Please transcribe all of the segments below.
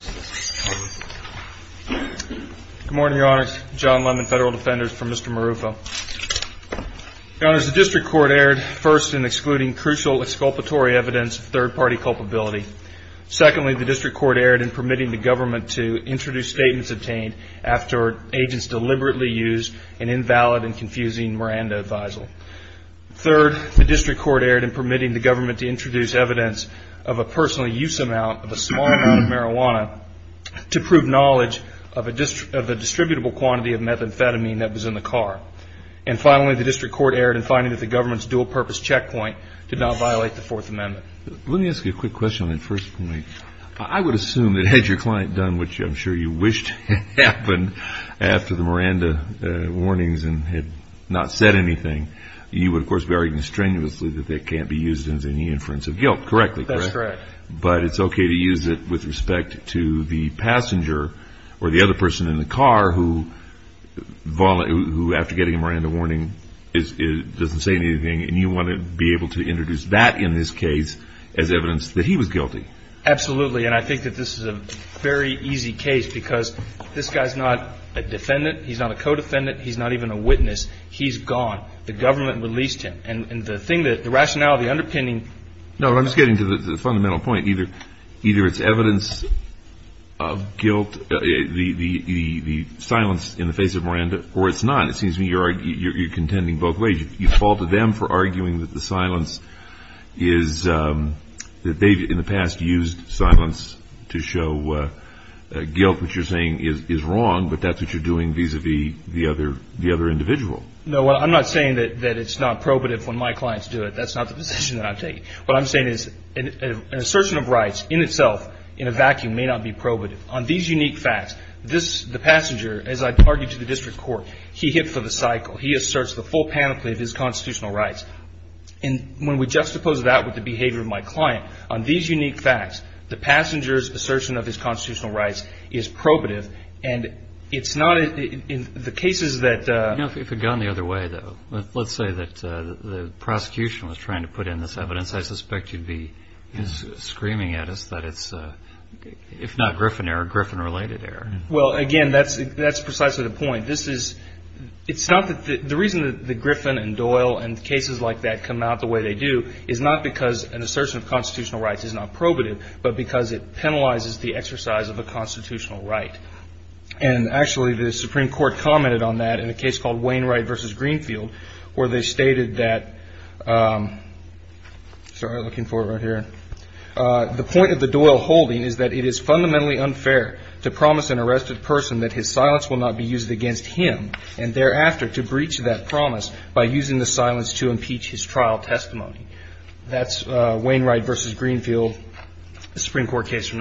Good morning, Your Honors. John Lemon, Federal Defender for Mr. Marrufo. Your Honors, the District Court erred first in excluding crucial exculpatory evidence of third-party culpability. Secondly, the District Court erred in permitting the government to introduce statements obtained after agents deliberately used an invalid and confusing Miranda advisal. Third, the District Court erred in permitting the government to introduce evidence of a personal use amount of a small amount of marijuana to prove knowledge of the distributable quantity of methamphetamine that was in the car. And finally, the District Court erred in finding that the government's dual-purpose checkpoint did not violate the Fourth Amendment. Let me ask you a quick question on that first point. I would assume that had your client done what I'm sure you wished happened after the Miranda warnings and had not said anything, you would of course be arguing strenuously that they can't be used as any inference of guilt, correct? That's correct. But it's okay to use it with respect to the passenger or the other person in the car who after getting a Miranda warning doesn't say anything and you want to be able to introduce that in this case as evidence that he was guilty? Absolutely, and I think that this is a very easy case because this guy's not a defendant, he's not a co-defendant, he's not even a witness. He's gone. The government released him. And the thing that, the rationality underpinning... No, I'm just getting to the fundamental point. Either it's evidence of guilt, the silence in the face of Miranda, or it's not. It seems to me you're contending both ways. You faulted them for arguing that the silence is, that they've in the past used silence to show guilt, which you're saying is wrong, but that's what you're doing vis-a-vis the other individual. No, I'm not saying that it's not probative when my clients do it. That's not the position that I'm taking. What I'm saying is an assertion of rights in itself in a vacuum may not be probative. On these unique facts, the passenger, as I targeted the district court, he hit for the cycle. He asserts the full panoply of his constitutional rights. And when we juxtapose that with the behavior of my client, on these unique facts, the passenger's assertion of his constitutional rights is probative. And it's not, in the cases that... You know, if it had gone the other way, though, let's say that the prosecution was trying to put in this evidence, I suspect you'd be screaming at us that it's, if not Griffin error, Griffin-related error. Well, again, that's precisely the point. This is, it's not that, the reason that Griffin and Doyle and cases like that come out the way they do is not because an assertion of constitutional rights is not probative, but because it penalizes the exercise of a constitutional right. And actually the Supreme Court commented on that in a case called Wainwright versus Greenfield, where they stated that, sorry, I'm looking for it right here. The point of the Doyle holding is that it is fundamentally unfair to promise an arrested person that his silence will not be used against him, and thereafter to breach that promise by using the silence to impeach his trial testimony. That's Wainwright versus Greenfield, a Supreme Court case.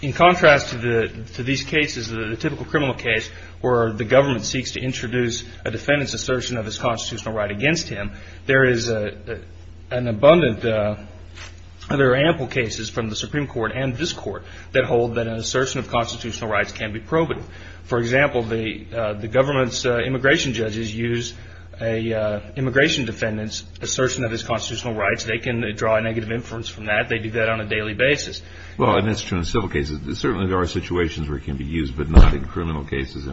In contrast to the, to these cases, the typical criminal case where the government seeks to introduce a defendant's assertion of his constitutional right against him, there is an abundant, there are ample cases from the Supreme Court and this Court that hold that an assertion of constitutional rights can be probative. For example, the government's immigration judges use a immigration defendant's assertion of his constitutional rights. They can draw negative inference from that. They do that on a daily basis. Well, and that's true in civil cases. There certainly are situations where it can be used, but not in criminal cases.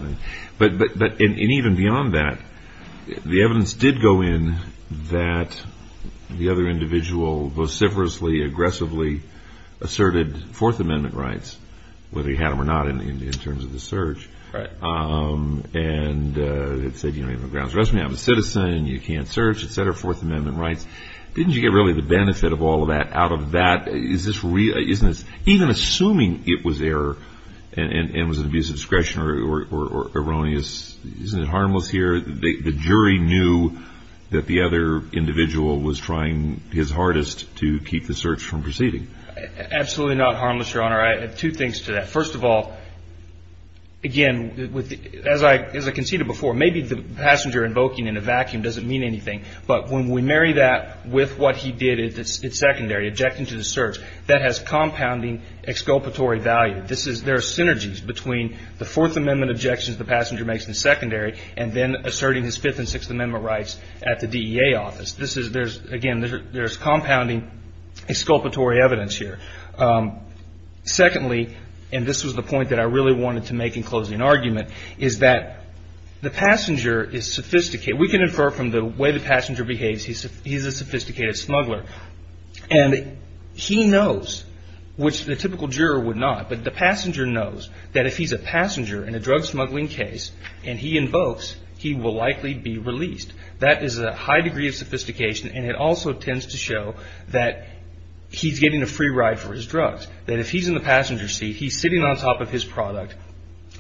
But, but, but, and even beyond that, the evidence did go in that the other individual vociferously, aggressively asserted Fourth Amendment rights, whether he had them or not in terms of the search. And it said, you know, you have a grounds arrest, you're not a citizen, you can't search, et cetera, Fourth Amendment rights. Didn't you get really the benefit of all of that out of that? Is this, isn't this, even assuming it was error and was an abuse of discretion or erroneous, isn't it harmless here? The jury knew that the other individual was trying his hardest to keep the search from proceeding. Absolutely not harmless, Your Honor. I have two things to that. First of all, again, as I, as I conceded before, maybe the passenger invoking in a vacuum doesn't mean anything, but when we marry that with what he did, it's secondary, objecting to the search, that has compounding exculpatory value. This is, there are synergies between the Fourth Amendment objections the passenger makes in the secondary and then asserting his Fifth and Sixth Amendment rights at the DEA office. This is, there's, again, there's compounding exculpatory evidence here. Secondly, and this was the point that I really wanted to make in closing argument, is that the passenger is sophisticated. We can infer from the way the passenger behaves, he's a sophisticated smuggler. And he knows, which the typical juror would not, but the passenger knows that if he's a passenger in a drug smuggling case and he invokes, he will likely be released. That is a high degree of sophistication and it also tends to show that he's getting a free ride for his drugs. That if he's in the passenger seat, he's sitting on top of his product,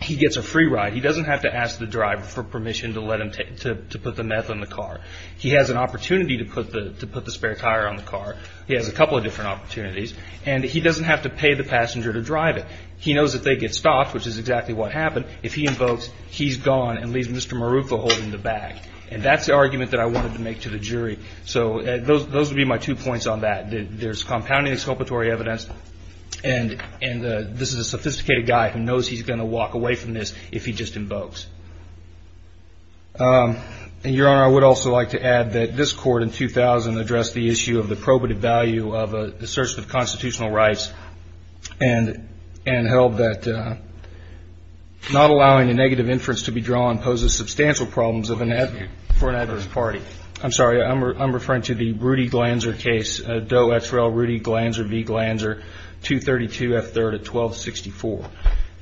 he gets a free ride. He doesn't have to ask the driver for permission to let him, to put the meth on the car. He has an opportunity to put the spare tire on the car. He has a couple of different opportunities. And he doesn't have to pay the passenger to drive it. He knows that they get stopped, which is exactly what happened, if he invokes, he's gone and leaves Mr. Maruca holding the bag. And that's the argument that I wanted to make to the jury. So those would be my two points on that. There's compounding exculpatory evidence and this is a sophisticated guy who knows he's going to walk away from this if he just invokes. Your Honor, I would also like to add that this Court in 2000 addressed the issue of the probative value of a search of constitutional rights and held that not allowing a negative inference to be drawn poses substantial problems for an adverse party. I'm sorry, I'm referring to the OXRL Rudy Glanzer v. Glanzer 232F3 at 1264.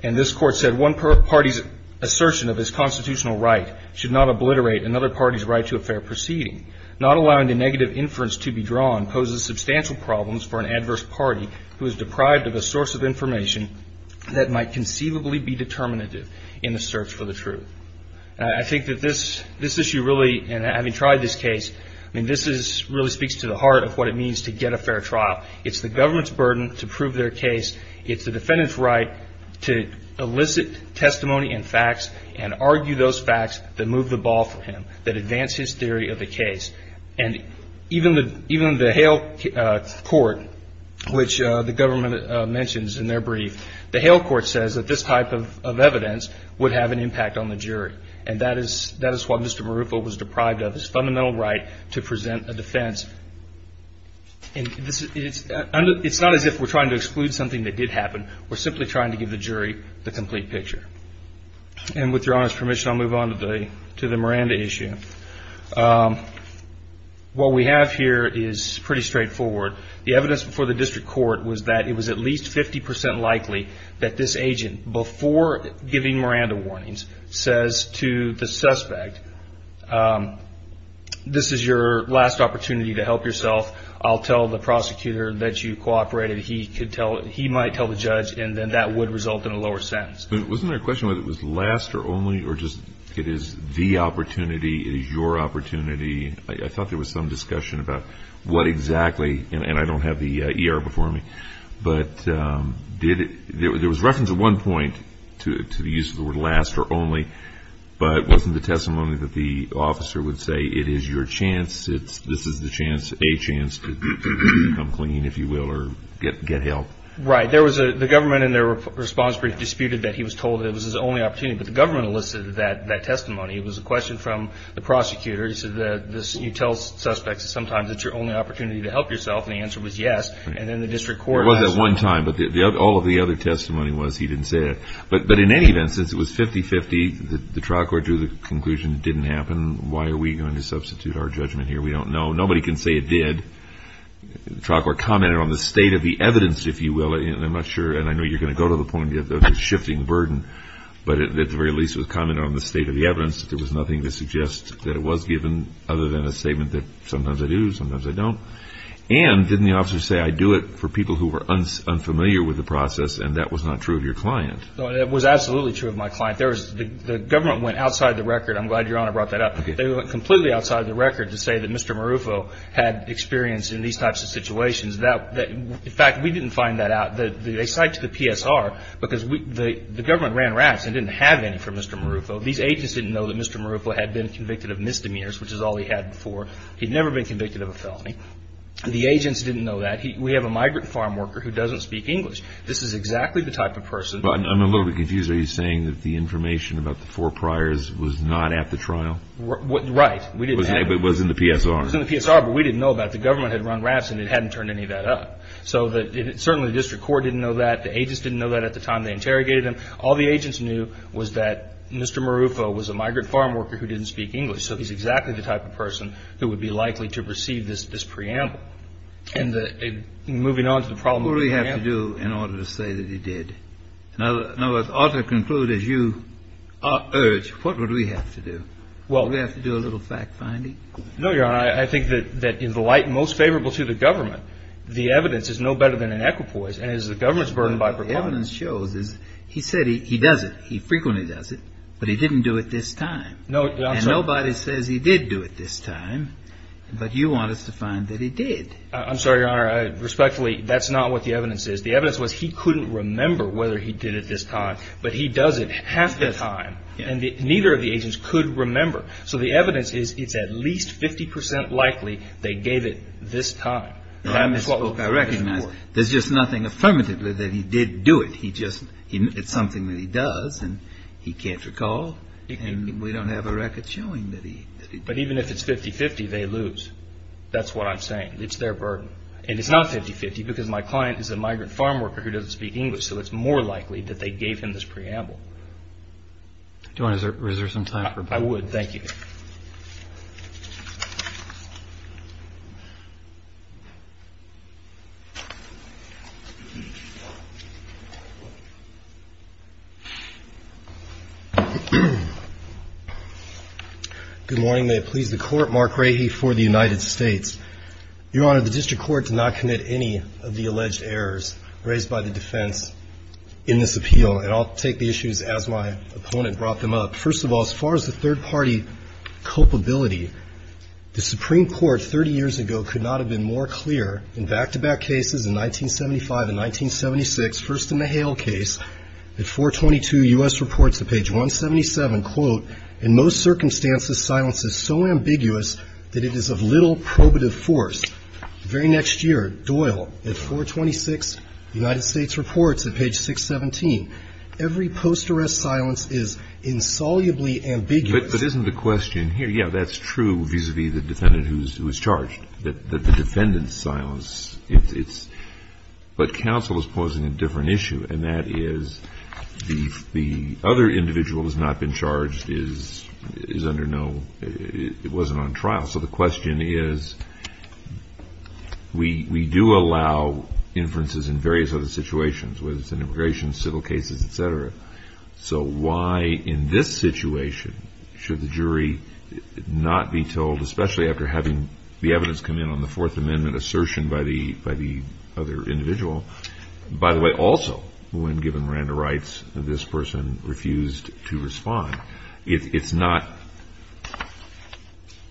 And this Court said one party's assertion of his constitutional right should not obliterate another party's right to a fair proceeding. Not allowing the negative inference to be drawn poses substantial problems for an adverse party who is deprived of a source of information that might conceivably be determinative in the search for the truth. I think that this issue really, and having tried this case, I mean, this really speaks to the heart of what it means to get a fair trial. It's the government's burden to prove their case. It's the defendant's right to elicit testimony and facts and argue those facts that move the ball for him, that advance his theory of the case. And even the Hale Court, which the government mentions in their brief, the Hale Court says that this type of evidence would have an impact on the jury. And that is what Mr. Marufo was deprived of, his fundamental right to present a defense. And it's not as if we're trying to exclude something that did happen. We're simply trying to give the jury the complete picture. And with your Honor's permission, I'll move on to the Miranda issue. What we have here is pretty straightforward. The evidence before the District Court was that it was at least 50 percent likely that this agent, before giving Miranda warnings, says to the judge, this is your last opportunity to help yourself. I'll tell the prosecutor that you cooperated. He might tell the judge, and then that would result in a lower sentence. But wasn't there a question whether it was last or only, or just it is the opportunity, it is your opportunity? I thought there was some discussion about what exactly, and I don't have the ER before me, but there was reference at one point to the use of the word last or only. But wasn't the testimony that the officer would say, it is your chance, this is a chance to come clean, if you will, or get help? Right. The government in their response brief disputed that he was told it was his only opportunity. But the government elicited that testimony. It was a question from the prosecutor. He said, you tell suspects sometimes it's your only opportunity to help yourself. And the answer was yes. And then the District Court... It was at one time, but all of the other testimony was he didn't say it. But in any event, since it was 50-50, the trial court drew the conclusion it didn't happen. Why are we going to substitute our judgment here? We don't know. Nobody can say it did. The trial court commented on the state of the evidence, if you will. I'm not sure, and I know you're going to go to the point of shifting the burden, but at the very least it was commented on the state of the evidence. There was nothing to suggest that it was given other than a statement that sometimes I do, sometimes I don't. And didn't the public know? They were unfamiliar with the process and that was not true of your client. It was absolutely true of my client. The government went outside the record. I'm glad Your Honor brought that up. They went completely outside the record to say that Mr. Marufo had experience in these types of situations. In fact, we didn't find that out. They cited the PSR, because the government ran raps and didn't have any for Mr. Marufo. These agents didn't know that Mr. Marufo had been convicted of misdemeanors, which is all he had before. He'd never been convicted of a felony. The agents didn't know that. We have a migrant farm worker who doesn't speak English. This is exactly the type of person. I'm a little bit confused. Are you saying that the information about the four priors was not at the trial? Right. We didn't have it. It was in the PSR. It was in the PSR, but we didn't know about it. The government had run raps and it hadn't turned any of that up. So certainly the district court didn't know that. The agents didn't know that at the time they interrogated him. All the agents knew was that Mr. Marufo was a migrant farm worker who didn't speak English. So he's exactly the type of person who would be likely to receive this preamble. And moving on to the problem of the preamble. What would we have to do in order to say that he did? In other words, ought to conclude as you urge, what would we have to do? Would we have to do a little fact-finding? No, Your Honor. I think that in the light most favorable to the government, the evidence is no better than an equipoise. And as the government's burdened by... The evidence shows is he said he does it. He frequently does it, but he didn't do it this time. And nobody says he did do it this time. But you want to find that he did. I'm sorry, Your Honor. Respectfully, that's not what the evidence is. The evidence was he couldn't remember whether he did it this time, but he does it half the time. And neither of the agents could remember. So the evidence is, it's at least 50% likely they gave it this time. That's what I recognize. There's just nothing affirmatively that he did do it. He just, it's something that he does and he can't recall. And we don't have a record showing that he... But even if it's 50-50, they lose. That's what I'm saying. It's their burden. And it's not 50-50 because my client is a migrant farm worker who doesn't speak English. So it's more likely that they gave him this preamble. Do you want to reserve some time for... I would. Thank you. Good morning. May it please the Court. Mark Rahe for the United States. Your Honor, the District Court did not commit any of the alleged errors raised by the defense in this appeal. And I'll take the issues as my opponent brought them up. First of all, as far as the third-party culpability, the Supreme Court 30 years ago could not have been more clear in back-to-back cases in 1975 and 1976. First in the Hale case at 422 U.S. Reports at page 177, quote, in most circumstances, silence is so ambiguous that it is of little probative force. The very next year, Doyle at 426 United States Reports at page 617, every post-arrest silence is insolubly ambiguous. But isn't the question here, yeah, that's true vis-a-vis the defendant who's charged, that the defendant's silence, it's... But counsel is posing a different issue, and that is the other individual who's not been charged is under no... It wasn't on trial. So the question is, we do allow inferences in various other situations, whether it's in immigration, civil cases, et cetera. So why in this situation should the jury not be told, especially after having the evidence come in on the Fourth Amendment assertion by the other individual? By the way, also, when given Miranda rights, this person refused to respond. It's not...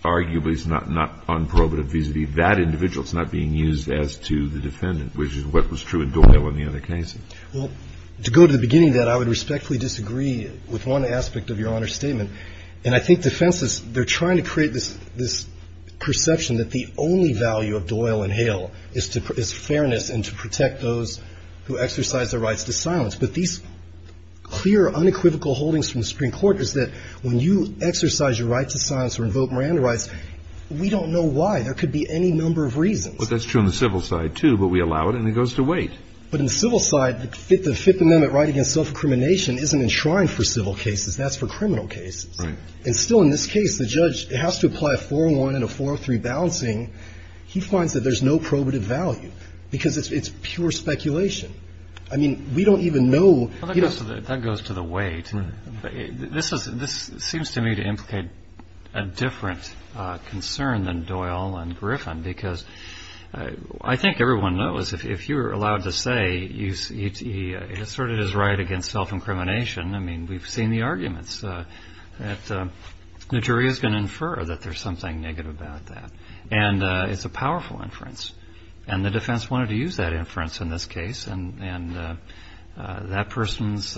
Arguably, it's not on probative vis-a-vis that individual. It's not being used as to the defendant, which is what was true in Doyle in the other case. Well, to go to the beginning of that, I would respectfully disagree with one aspect of Your Honor's statement. And I think defense is, they're trying to create this perception that the only value of Doyle and Hale is fairness and to protect those who exercise their rights to silence. But these clear, unequivocal holdings from the Supreme Court is that when you exercise your right to silence or invoke Miranda rights, we don't know why. There could be any number of reasons. But that's true on the civil side, too, but we allow it and it goes to weight. But on the civil side, the Fifth Amendment right against self-incrimination isn't enshrined for civil cases. That's for criminal cases. Right. And still in this case, the judge has to apply a 401 and a 403 balancing. He finds that there's no probative value because it's pure speculation. I mean, we don't even know... That goes to the weight. This seems to me to implicate a different concern than Doyle and Griffin, because I think everyone knows if you're allowed to say you asserted his right against self-incrimination, I mean, we've seen the arguments that the jury is going to infer that there's something negative about that. And it's a powerful inference. And the defense wanted to use that inference in this case. And that person's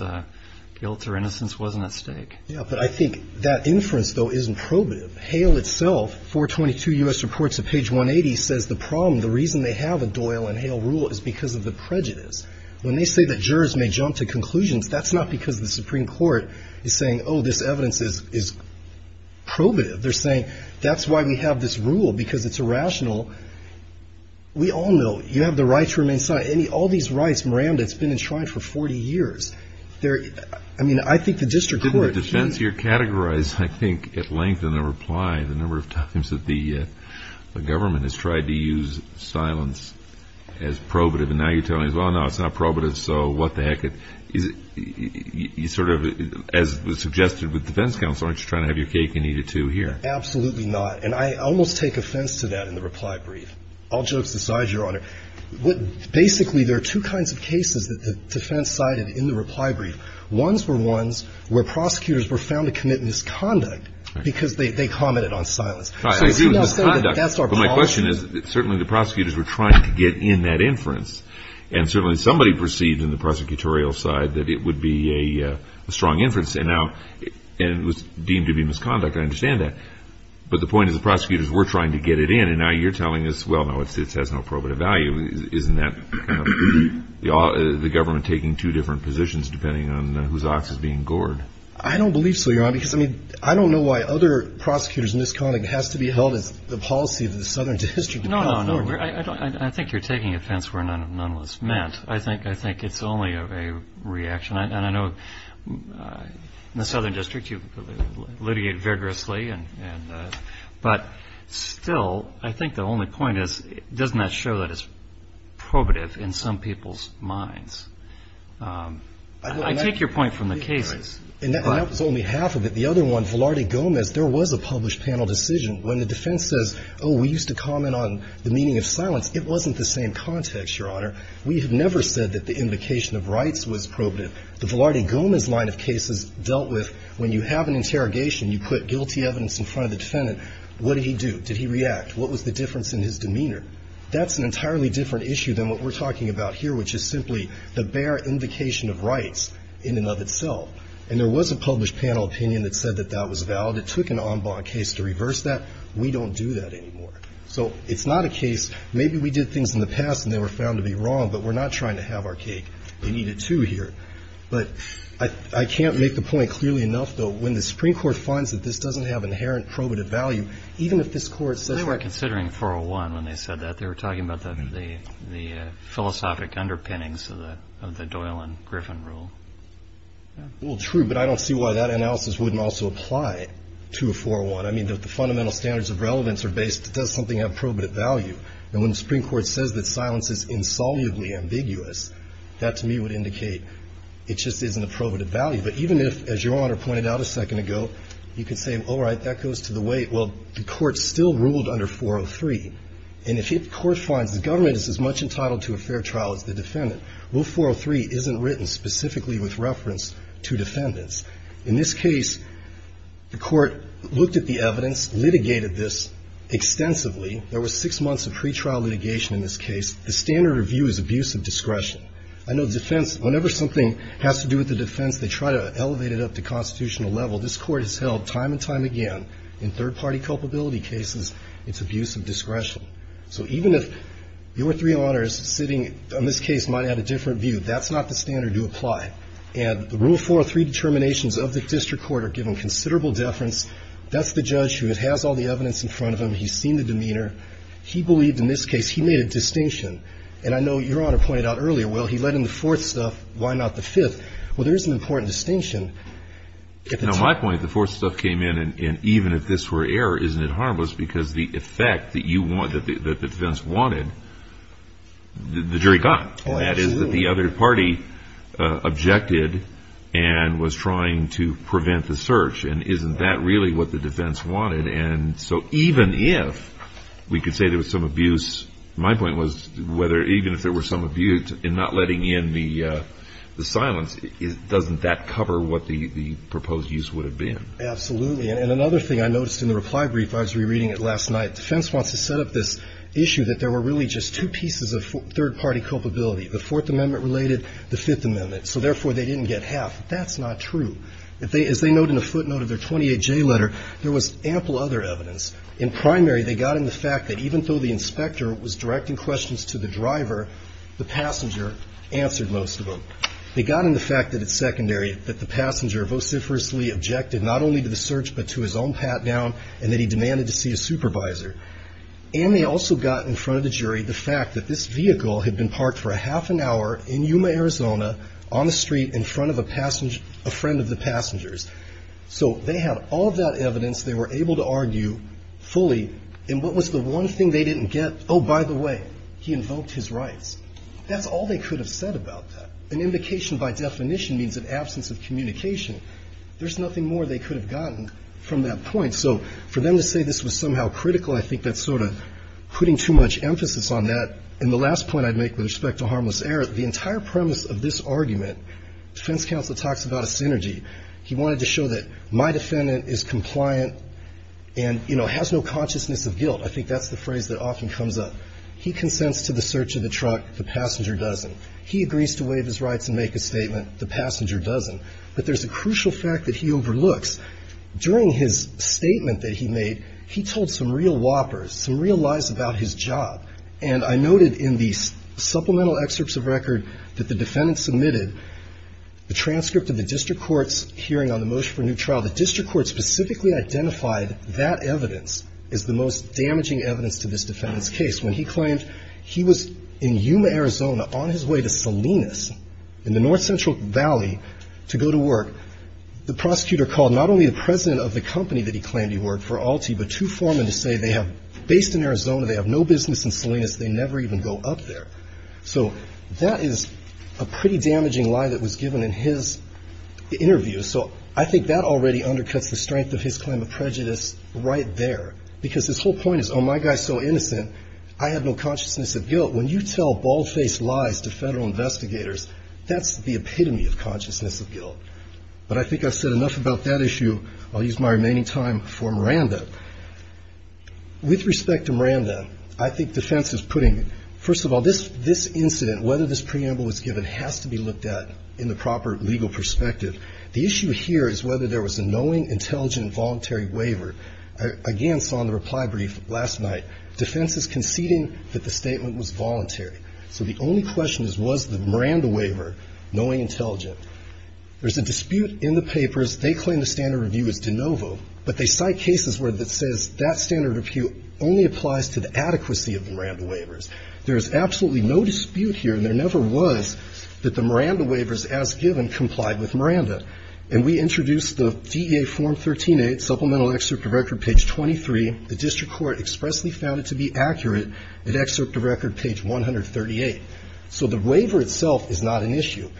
guilt or innocence wasn't at stake. Yeah, but I think that inference, though, isn't probative. Hale itself, 422 U.S. Reports of Page 180, says the problem, the reason they have a Doyle and Hale rule is because of the prejudice. When they say that jurors may jump to conclusions, that's not because the Supreme Court is saying, oh, this evidence is probative. They're saying that's why we have this rule, because it's irrational. We all know you have the right to remain silent. All these rights, Miranda, it's been enshrined for 40 years. I mean, I think the district court... Why, the number of times that the government has tried to use silence as probative, and now you're telling us, well, no, it's not probative, so what the heck? Is it, you sort of, as was suggested with defense counsel, aren't you trying to have your cake and eat it, too, here? Absolutely not. And I almost take offense to that in the reply brief. All jokes aside, Your Honor, basically there are two kinds of cases that the defense cited in the reply brief. Ones were ones where prosecutors were found to commit misconduct, because they commented on silence. So you're saying that that's our policy? Well, my question is, certainly the prosecutors were trying to get in that inference, and certainly somebody perceived in the prosecutorial side that it would be a strong inference, and it was deemed to be misconduct, I understand that. But the point is the prosecutors were trying to get it in, and now you're telling us, well, no, it has no probative value, isn't that kind of... The government taking two different positions, depending on whose ox is being gored. I don't believe so, Your Honor, because I don't know why other prosecutors' misconduct has to be held as the policy of the Southern District. No, no, I think you're taking offense where none was meant. I think it's only a reaction, and I know in the Southern District you litigate vigorously, but still, I think the only point is, doesn't that show that it's probative in some people's minds? I take your point from the cases. And that was only half of it. The other one, Velarde Gomez, there was a published panel decision. When the defense says, oh, we used to comment on the meaning of silence, it wasn't the same context, Your Honor. We have never said that the invocation of rights was probative. The Velarde Gomez line of cases dealt with, when you have an interrogation, you put guilty evidence in front of the defendant, what did he do, did he react, what was the difference in his demeanor? That's an entirely different issue than what we're talking about here, which is simply the bare invocation of rights in and of itself. And there was a published panel opinion that said that that was valid. It took an en banc case to reverse that. We don't do that anymore. So it's not a case, maybe we did things in the past and they were found to be wrong, but we're not trying to have our cake. They need it, too, here. But I can't make the point clearly enough, though, when the Supreme Court finds that this doesn't have inherent probative value, even if this Court says we're considering 401 when they said that, they were talking about the philosophic underpinnings of the Doyle and Griffin rule. Well, true, but I don't see why that analysis wouldn't also apply to a 401. I mean, the fundamental standards of relevance are based, does something have probative value? And when the Supreme Court says that silence is insolubly ambiguous, that to me would indicate it just isn't a probative value. But even if, as Your Honor pointed out a second ago, you could say, all right, that goes to wait, well, the Court still ruled under 403, and if the Court finds the government is as much entitled to a fair trial as the defendant, well, 403 isn't written specifically with reference to defendants. In this case, the Court looked at the evidence, litigated this extensively. There were six months of pretrial litigation in this case. The standard review is abuse of discretion. I know defense, whenever something has to do with the defense, they try to elevate it up to constitutional level. This Court has held time and time again, in third-party culpability cases, it's abuse of discretion. So even if your three honors sitting on this case might have a different view, that's not the standard you apply. And the rule 403 determinations of the district court are given considerable deference. That's the judge who has all the evidence in front of him. He's seen the demeanor. He believed in this case, he made a distinction. And I know Your Honor pointed out earlier, well, he let in the fourth stuff, why not the fifth? Well, there is an important distinction. Now, my point, the fourth stuff came in, and even if this were error, isn't it harmless? Because the effect that you want, that the defense wanted, the jury got. Oh, absolutely. And that is that the other party objected and was trying to prevent the search. And isn't that really what the defense wanted? And so even if we could say there was some abuse, my point was, even if there were some the silence, doesn't that cover what the proposed use would have been? Absolutely. And another thing I noticed in the reply brief, I was rereading it last night, defense wants to set up this issue that there were really just two pieces of third-party culpability, the Fourth Amendment-related, the Fifth Amendment. So therefore, they didn't get half. That's not true. As they note in the footnote of their 28J letter, there was ample other evidence. In primary, they got in the fact that even though the inspector was directing questions to the driver, the passenger answered most of them. They got in the fact that it's secondary, that the passenger vociferously objected not only to the search, but to his own pat-down, and that he demanded to see a supervisor. And they also got in front of the jury the fact that this vehicle had been parked for a half an hour in Yuma, Arizona, on the street in front of a friend of the passengers. So they had all of that evidence. They were able to argue fully. And what was the one thing they didn't get? Oh, by the way, he invoked his rights. That's all they could have said about that. An invocation by definition means an absence of communication. There's nothing more they could have gotten from that point. So for them to say this was somehow critical, I think that's sort of putting too much emphasis on that. And the last point I'd make with respect to harmless error, the entire premise of this argument, defense counsel talks about a synergy. He wanted to show that my defendant is compliant and, you know, has no consciousness of guilt. I think that's the phrase that often comes up. He consents to the search of the truck. The passenger doesn't. He agrees to waive his rights and make a statement. The passenger doesn't. But there's a crucial fact that he overlooks. During his statement that he made, he told some real whoppers, some real lies about his job. And I noted in the supplemental excerpts of record that the defendant submitted, the transcript of the district court's hearing on the motion for a new trial, the district court specifically identified that evidence is the most damaging evidence to this defendant's case. When he claimed he was in Yuma, Arizona, on his way to Salinas in the North Central Valley to go to work, the prosecutor called not only the president of the company that he claimed he worked for, Altie, but two foremen to say they have, based in Arizona, they have no business in Salinas. They never even go up there. So that is a pretty damaging lie that was given in his interview. So I think that already undercuts the strength of his claim of prejudice right there. Because his whole point is, oh, my guy's so innocent, I have no consciousness of guilt. When you tell bald-faced lies to federal investigators, that's the epitome of consciousness of guilt. But I think I've said enough about that issue. I'll use my remaining time for Miranda. With respect to Miranda, I think defense is putting, first of all, this incident, whether this preamble was given, has to be looked at in the proper legal perspective. The issue here is whether there was a knowing, intelligent, voluntary waiver. I, again, saw in the reply brief last night, defense is conceding that the statement was voluntary. So the only question is, was the Miranda waiver knowing, intelligent? There's a dispute in the papers. They claim the standard review is de novo, but they cite cases where it says that standard review only applies to the adequacy of the Miranda waivers. There's absolutely no dispute here. And there never was that the Miranda waivers, as given, complied with Miranda. And we introduced the DEA Form 13-8 Supplemental Excerpt of Record, page 23. The district court expressly found it to be accurate at excerpt of record, page 138. So the waiver itself is not an issue.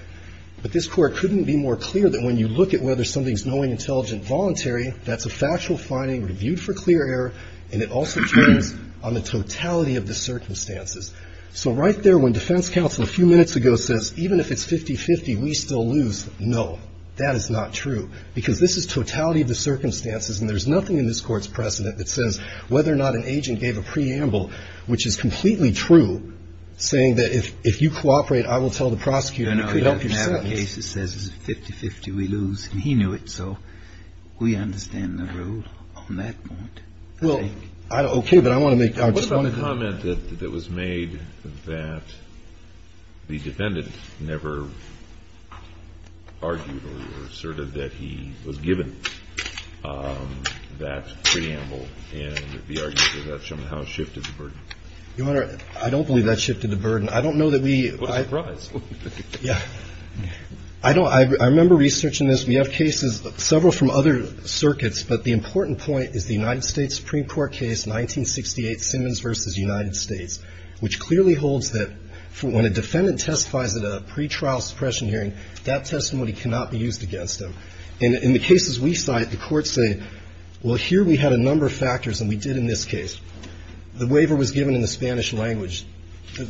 But this court couldn't be more clear that when you look at whether something's knowing, intelligent, voluntary, that's a factual finding reviewed for clear error. And it also depends on the totality of the circumstances. So right there, when defense counsel a few minutes ago says, even if it's 50-50, we still lose, no, that is not true. Because this is totality of the circumstances, and there's nothing in this Court's precedent that says whether or not an agent gave a preamble, which is completely true, saying that if you cooperate, I will tell the prosecutor, and it could help your sentence. Kennedy. I know. In half the cases, it says it's 50-50, we lose, and he knew it. So we understand the rule on that point, I think. Well, okay, but I want to make, I just want to make a comment. The comment that was made that the defendant never argued or asserted that he was given that preamble, and the argument that that somehow shifted the burden. Your Honor, I don't believe that shifted the burden. I don't know that we – What a surprise. Yeah. I don't – I remember researching this. We have cases, several from other circuits, but the important point is the United States, which clearly holds that when a defendant testifies at a pretrial suppression hearing, that testimony cannot be used against them. In the cases we cite, the courts say, well, here we had a number of factors, and we did in this case. The waiver was given in the Spanish language,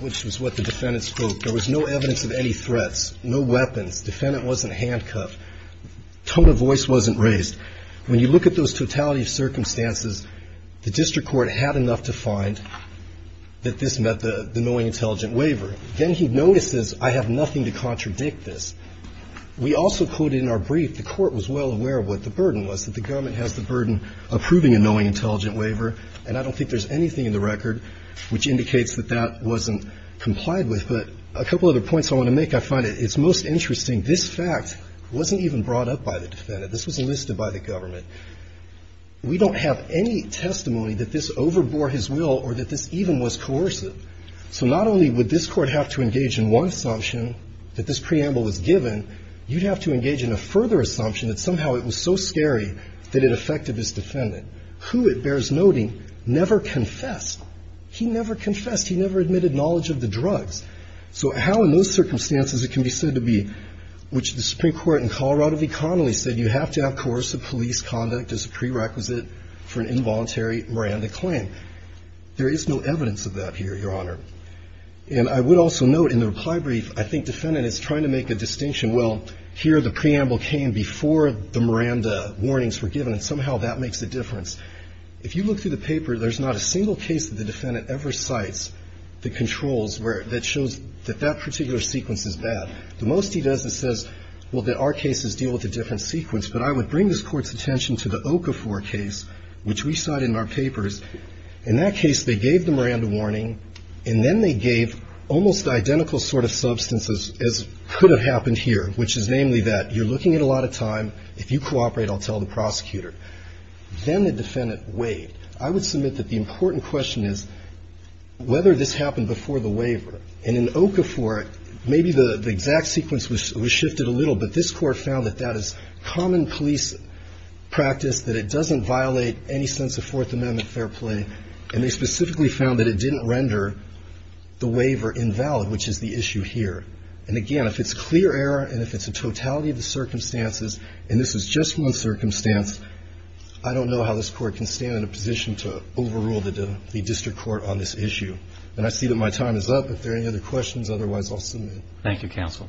which was what the defendant spoke. There was no evidence of any threats, no weapons. Defendant wasn't handcuffed. Tone of voice wasn't raised. When you look at those totality of circumstances, the district court had enough to find that this meant the knowing, intelligent waiver. Then he notices, I have nothing to contradict this. We also quoted in our brief, the court was well aware of what the burden was, that the government has the burden of proving a knowing, intelligent waiver, and I don't think there's anything in the record which indicates that that wasn't complied with. But a couple other points I want to make, I find it's most interesting, this fact wasn't even brought up by the defendant. This was enlisted by the government. We don't have any testimony that this overbore his will or that this even was coercive. So not only would this court have to engage in one assumption, that this preamble was given, you'd have to engage in a further assumption that somehow it was so scary that it affected his defendant, who, it bears noting, never confessed. He never confessed. He never admitted knowledge of the drugs. So how in those circumstances it can be said to be, which the Supreme Court in Colorado v. Connelly said, you have to have coercive police conduct as a prerequisite for an involuntary Miranda claim. There is no evidence of that here, Your Honor. And I would also note in the reply brief, I think defendant is trying to make a distinction, well, here the preamble came before the Miranda warnings were given, and somehow that makes a difference. If you look through the paper, there's not a single case that the defendant ever cites that controls, that shows that that particular sequence is bad. The most he does is says, well, there are cases deal with a different sequence. But I would bring this court's attention to the Okafor case, which we cite in our papers. In that case, they gave the Miranda warning, and then they gave almost identical sort of substance as could have happened here, which is namely that you're looking at a lot of time. If you cooperate, I'll tell the prosecutor. Then the defendant waived. I would submit that the important question is whether this happened before the waiver. And in Okafor, maybe the exact sequence was shifted a little, but this court found that that is common police practice, that it doesn't violate any sense of Fourth Amendment fair play. And they specifically found that it didn't render the waiver invalid, which is the issue here. And again, if it's clear error, and if it's a totality of the circumstances, and this is just one circumstance, I don't know how this court can stand in a position to overrule the district court on this issue. And I see that my time is up. If there are any other questions, otherwise, I'll submit. Thank you, counsel.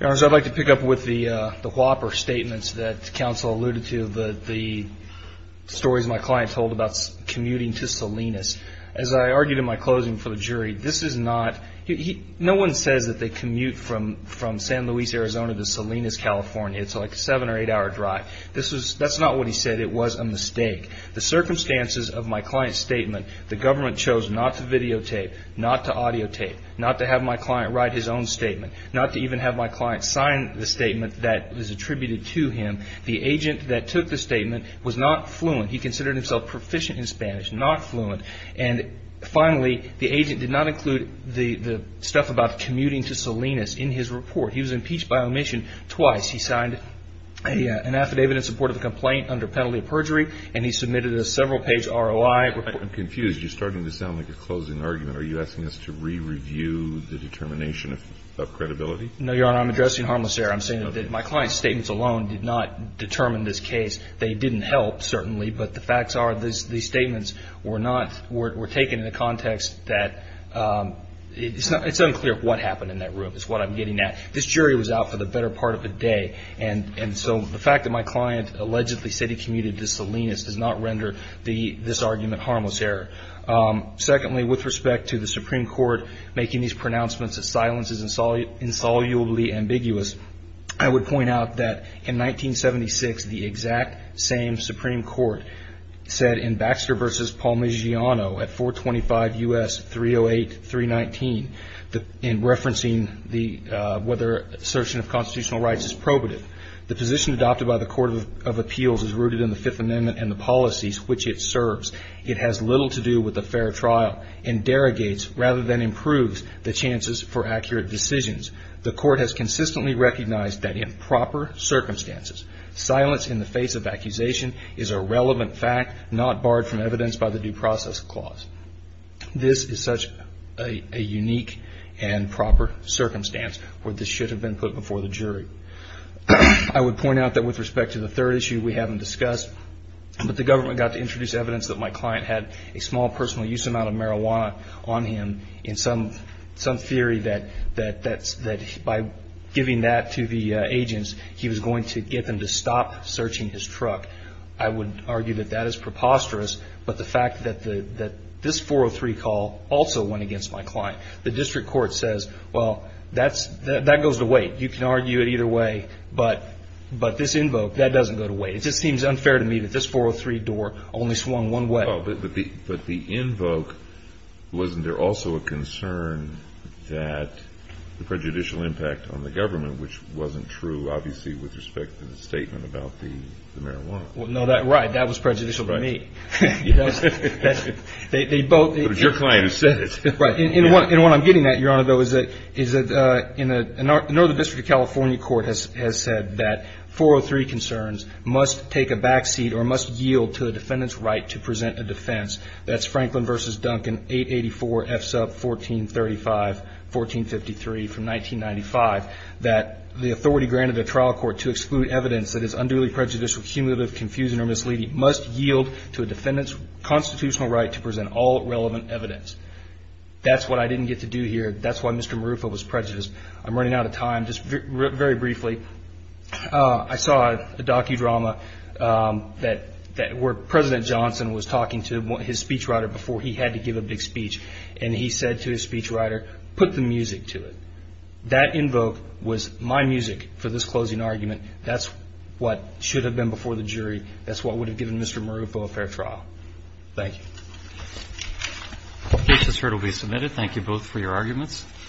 Your Honor, I'd like to pick up with the Whopper statements that counsel alluded to, the stories my client told about commuting to Salinas. As I argued in my closing for the jury, this is not, no one says that they commute from San Luis, Arizona to Salinas, California. It's like a seven or eight hour drive. That's not what he said. It was a mistake. The circumstances of my client's statement, the government chose not to videotape, not to audiotape, not to have my client write his own statement, not to even have my agent that took the statement was not fluent. He considered himself proficient in Spanish, not fluent, and finally, the agent did not include the stuff about commuting to Salinas in his report. He was impeached by omission twice. He signed an affidavit in support of the complaint under penalty of perjury, and he submitted a several page ROI report. I'm confused. You're starting to sound like a closing argument. Are you asking us to re-review the determination of credibility? No, Your Honor, I'm addressing harmless error. I'm saying that my client's statements alone did not determine this case. They didn't help, certainly, but the facts are these statements were taken in a context that it's unclear what happened in that room is what I'm getting at. This jury was out for the better part of a day, and so the fact that my client allegedly said he commuted to Salinas does not render this argument harmless error. Secondly, with respect to the Supreme Court making these pronouncements that silence is insolubly ambiguous, I would point out that in 1976, the exact same Supreme Court said in Baxter versus Palmigiano at 425 U.S. 308, 319, in referencing whether assertion of constitutional rights is probative, the position adopted by the Court of Appeals is rooted in the Fifth Amendment and the policies which it serves. It has little to do with a fair trial and derogates rather than improves the chances for accurate decisions. The court has consistently recognized that in proper circumstances, silence in the face of accusation is a relevant fact, not barred from evidence by the due process clause. This is such a unique and proper circumstance where this should have been put before the jury. I would point out that with respect to the third issue we haven't discussed, but the government got to introduce evidence that my client had a small personal use amount of marijuana on him. In some theory that by giving that to the agents, he was going to get them to stop searching his truck. I would argue that that is preposterous, but the fact that this 403 call also went against my client. The district court says, well, that goes to wait. You can argue it either way, but this invoke, that doesn't go to wait. It just seems unfair to me that this 403 door only swung one way. But the invoke, wasn't there also a concern that the prejudicial impact on the government, which wasn't true obviously with respect to the statement about the marijuana? Well, no, right. That was prejudicial to me. They both- But it was your client who said it. Right, and what I'm getting at, Your Honor, though, is that in the Northern District of California court has said that 403 concerns must take a backseat or must yield to the defendant's right to present a defense. That's Franklin versus Duncan, 884 F sub 1435, 1453 from 1995. That the authority granted a trial court to exclude evidence that is unduly prejudicial, cumulative, confusing, or misleading must yield to a defendant's constitutional right to present all relevant evidence. That's what I didn't get to do here. That's why Mr. Marufo was prejudiced. I'm running out of time. Just very briefly, I saw a docudrama that where President Johnson was talking to his speechwriter before he had to give a big speech, and he said to his speechwriter, put the music to it. That invoke was my music for this closing argument. That's what should have been before the jury. That's what would have given Mr. Marufo a fair trial. Thank you. The case has heard will be submitted. Thank you both for your arguments.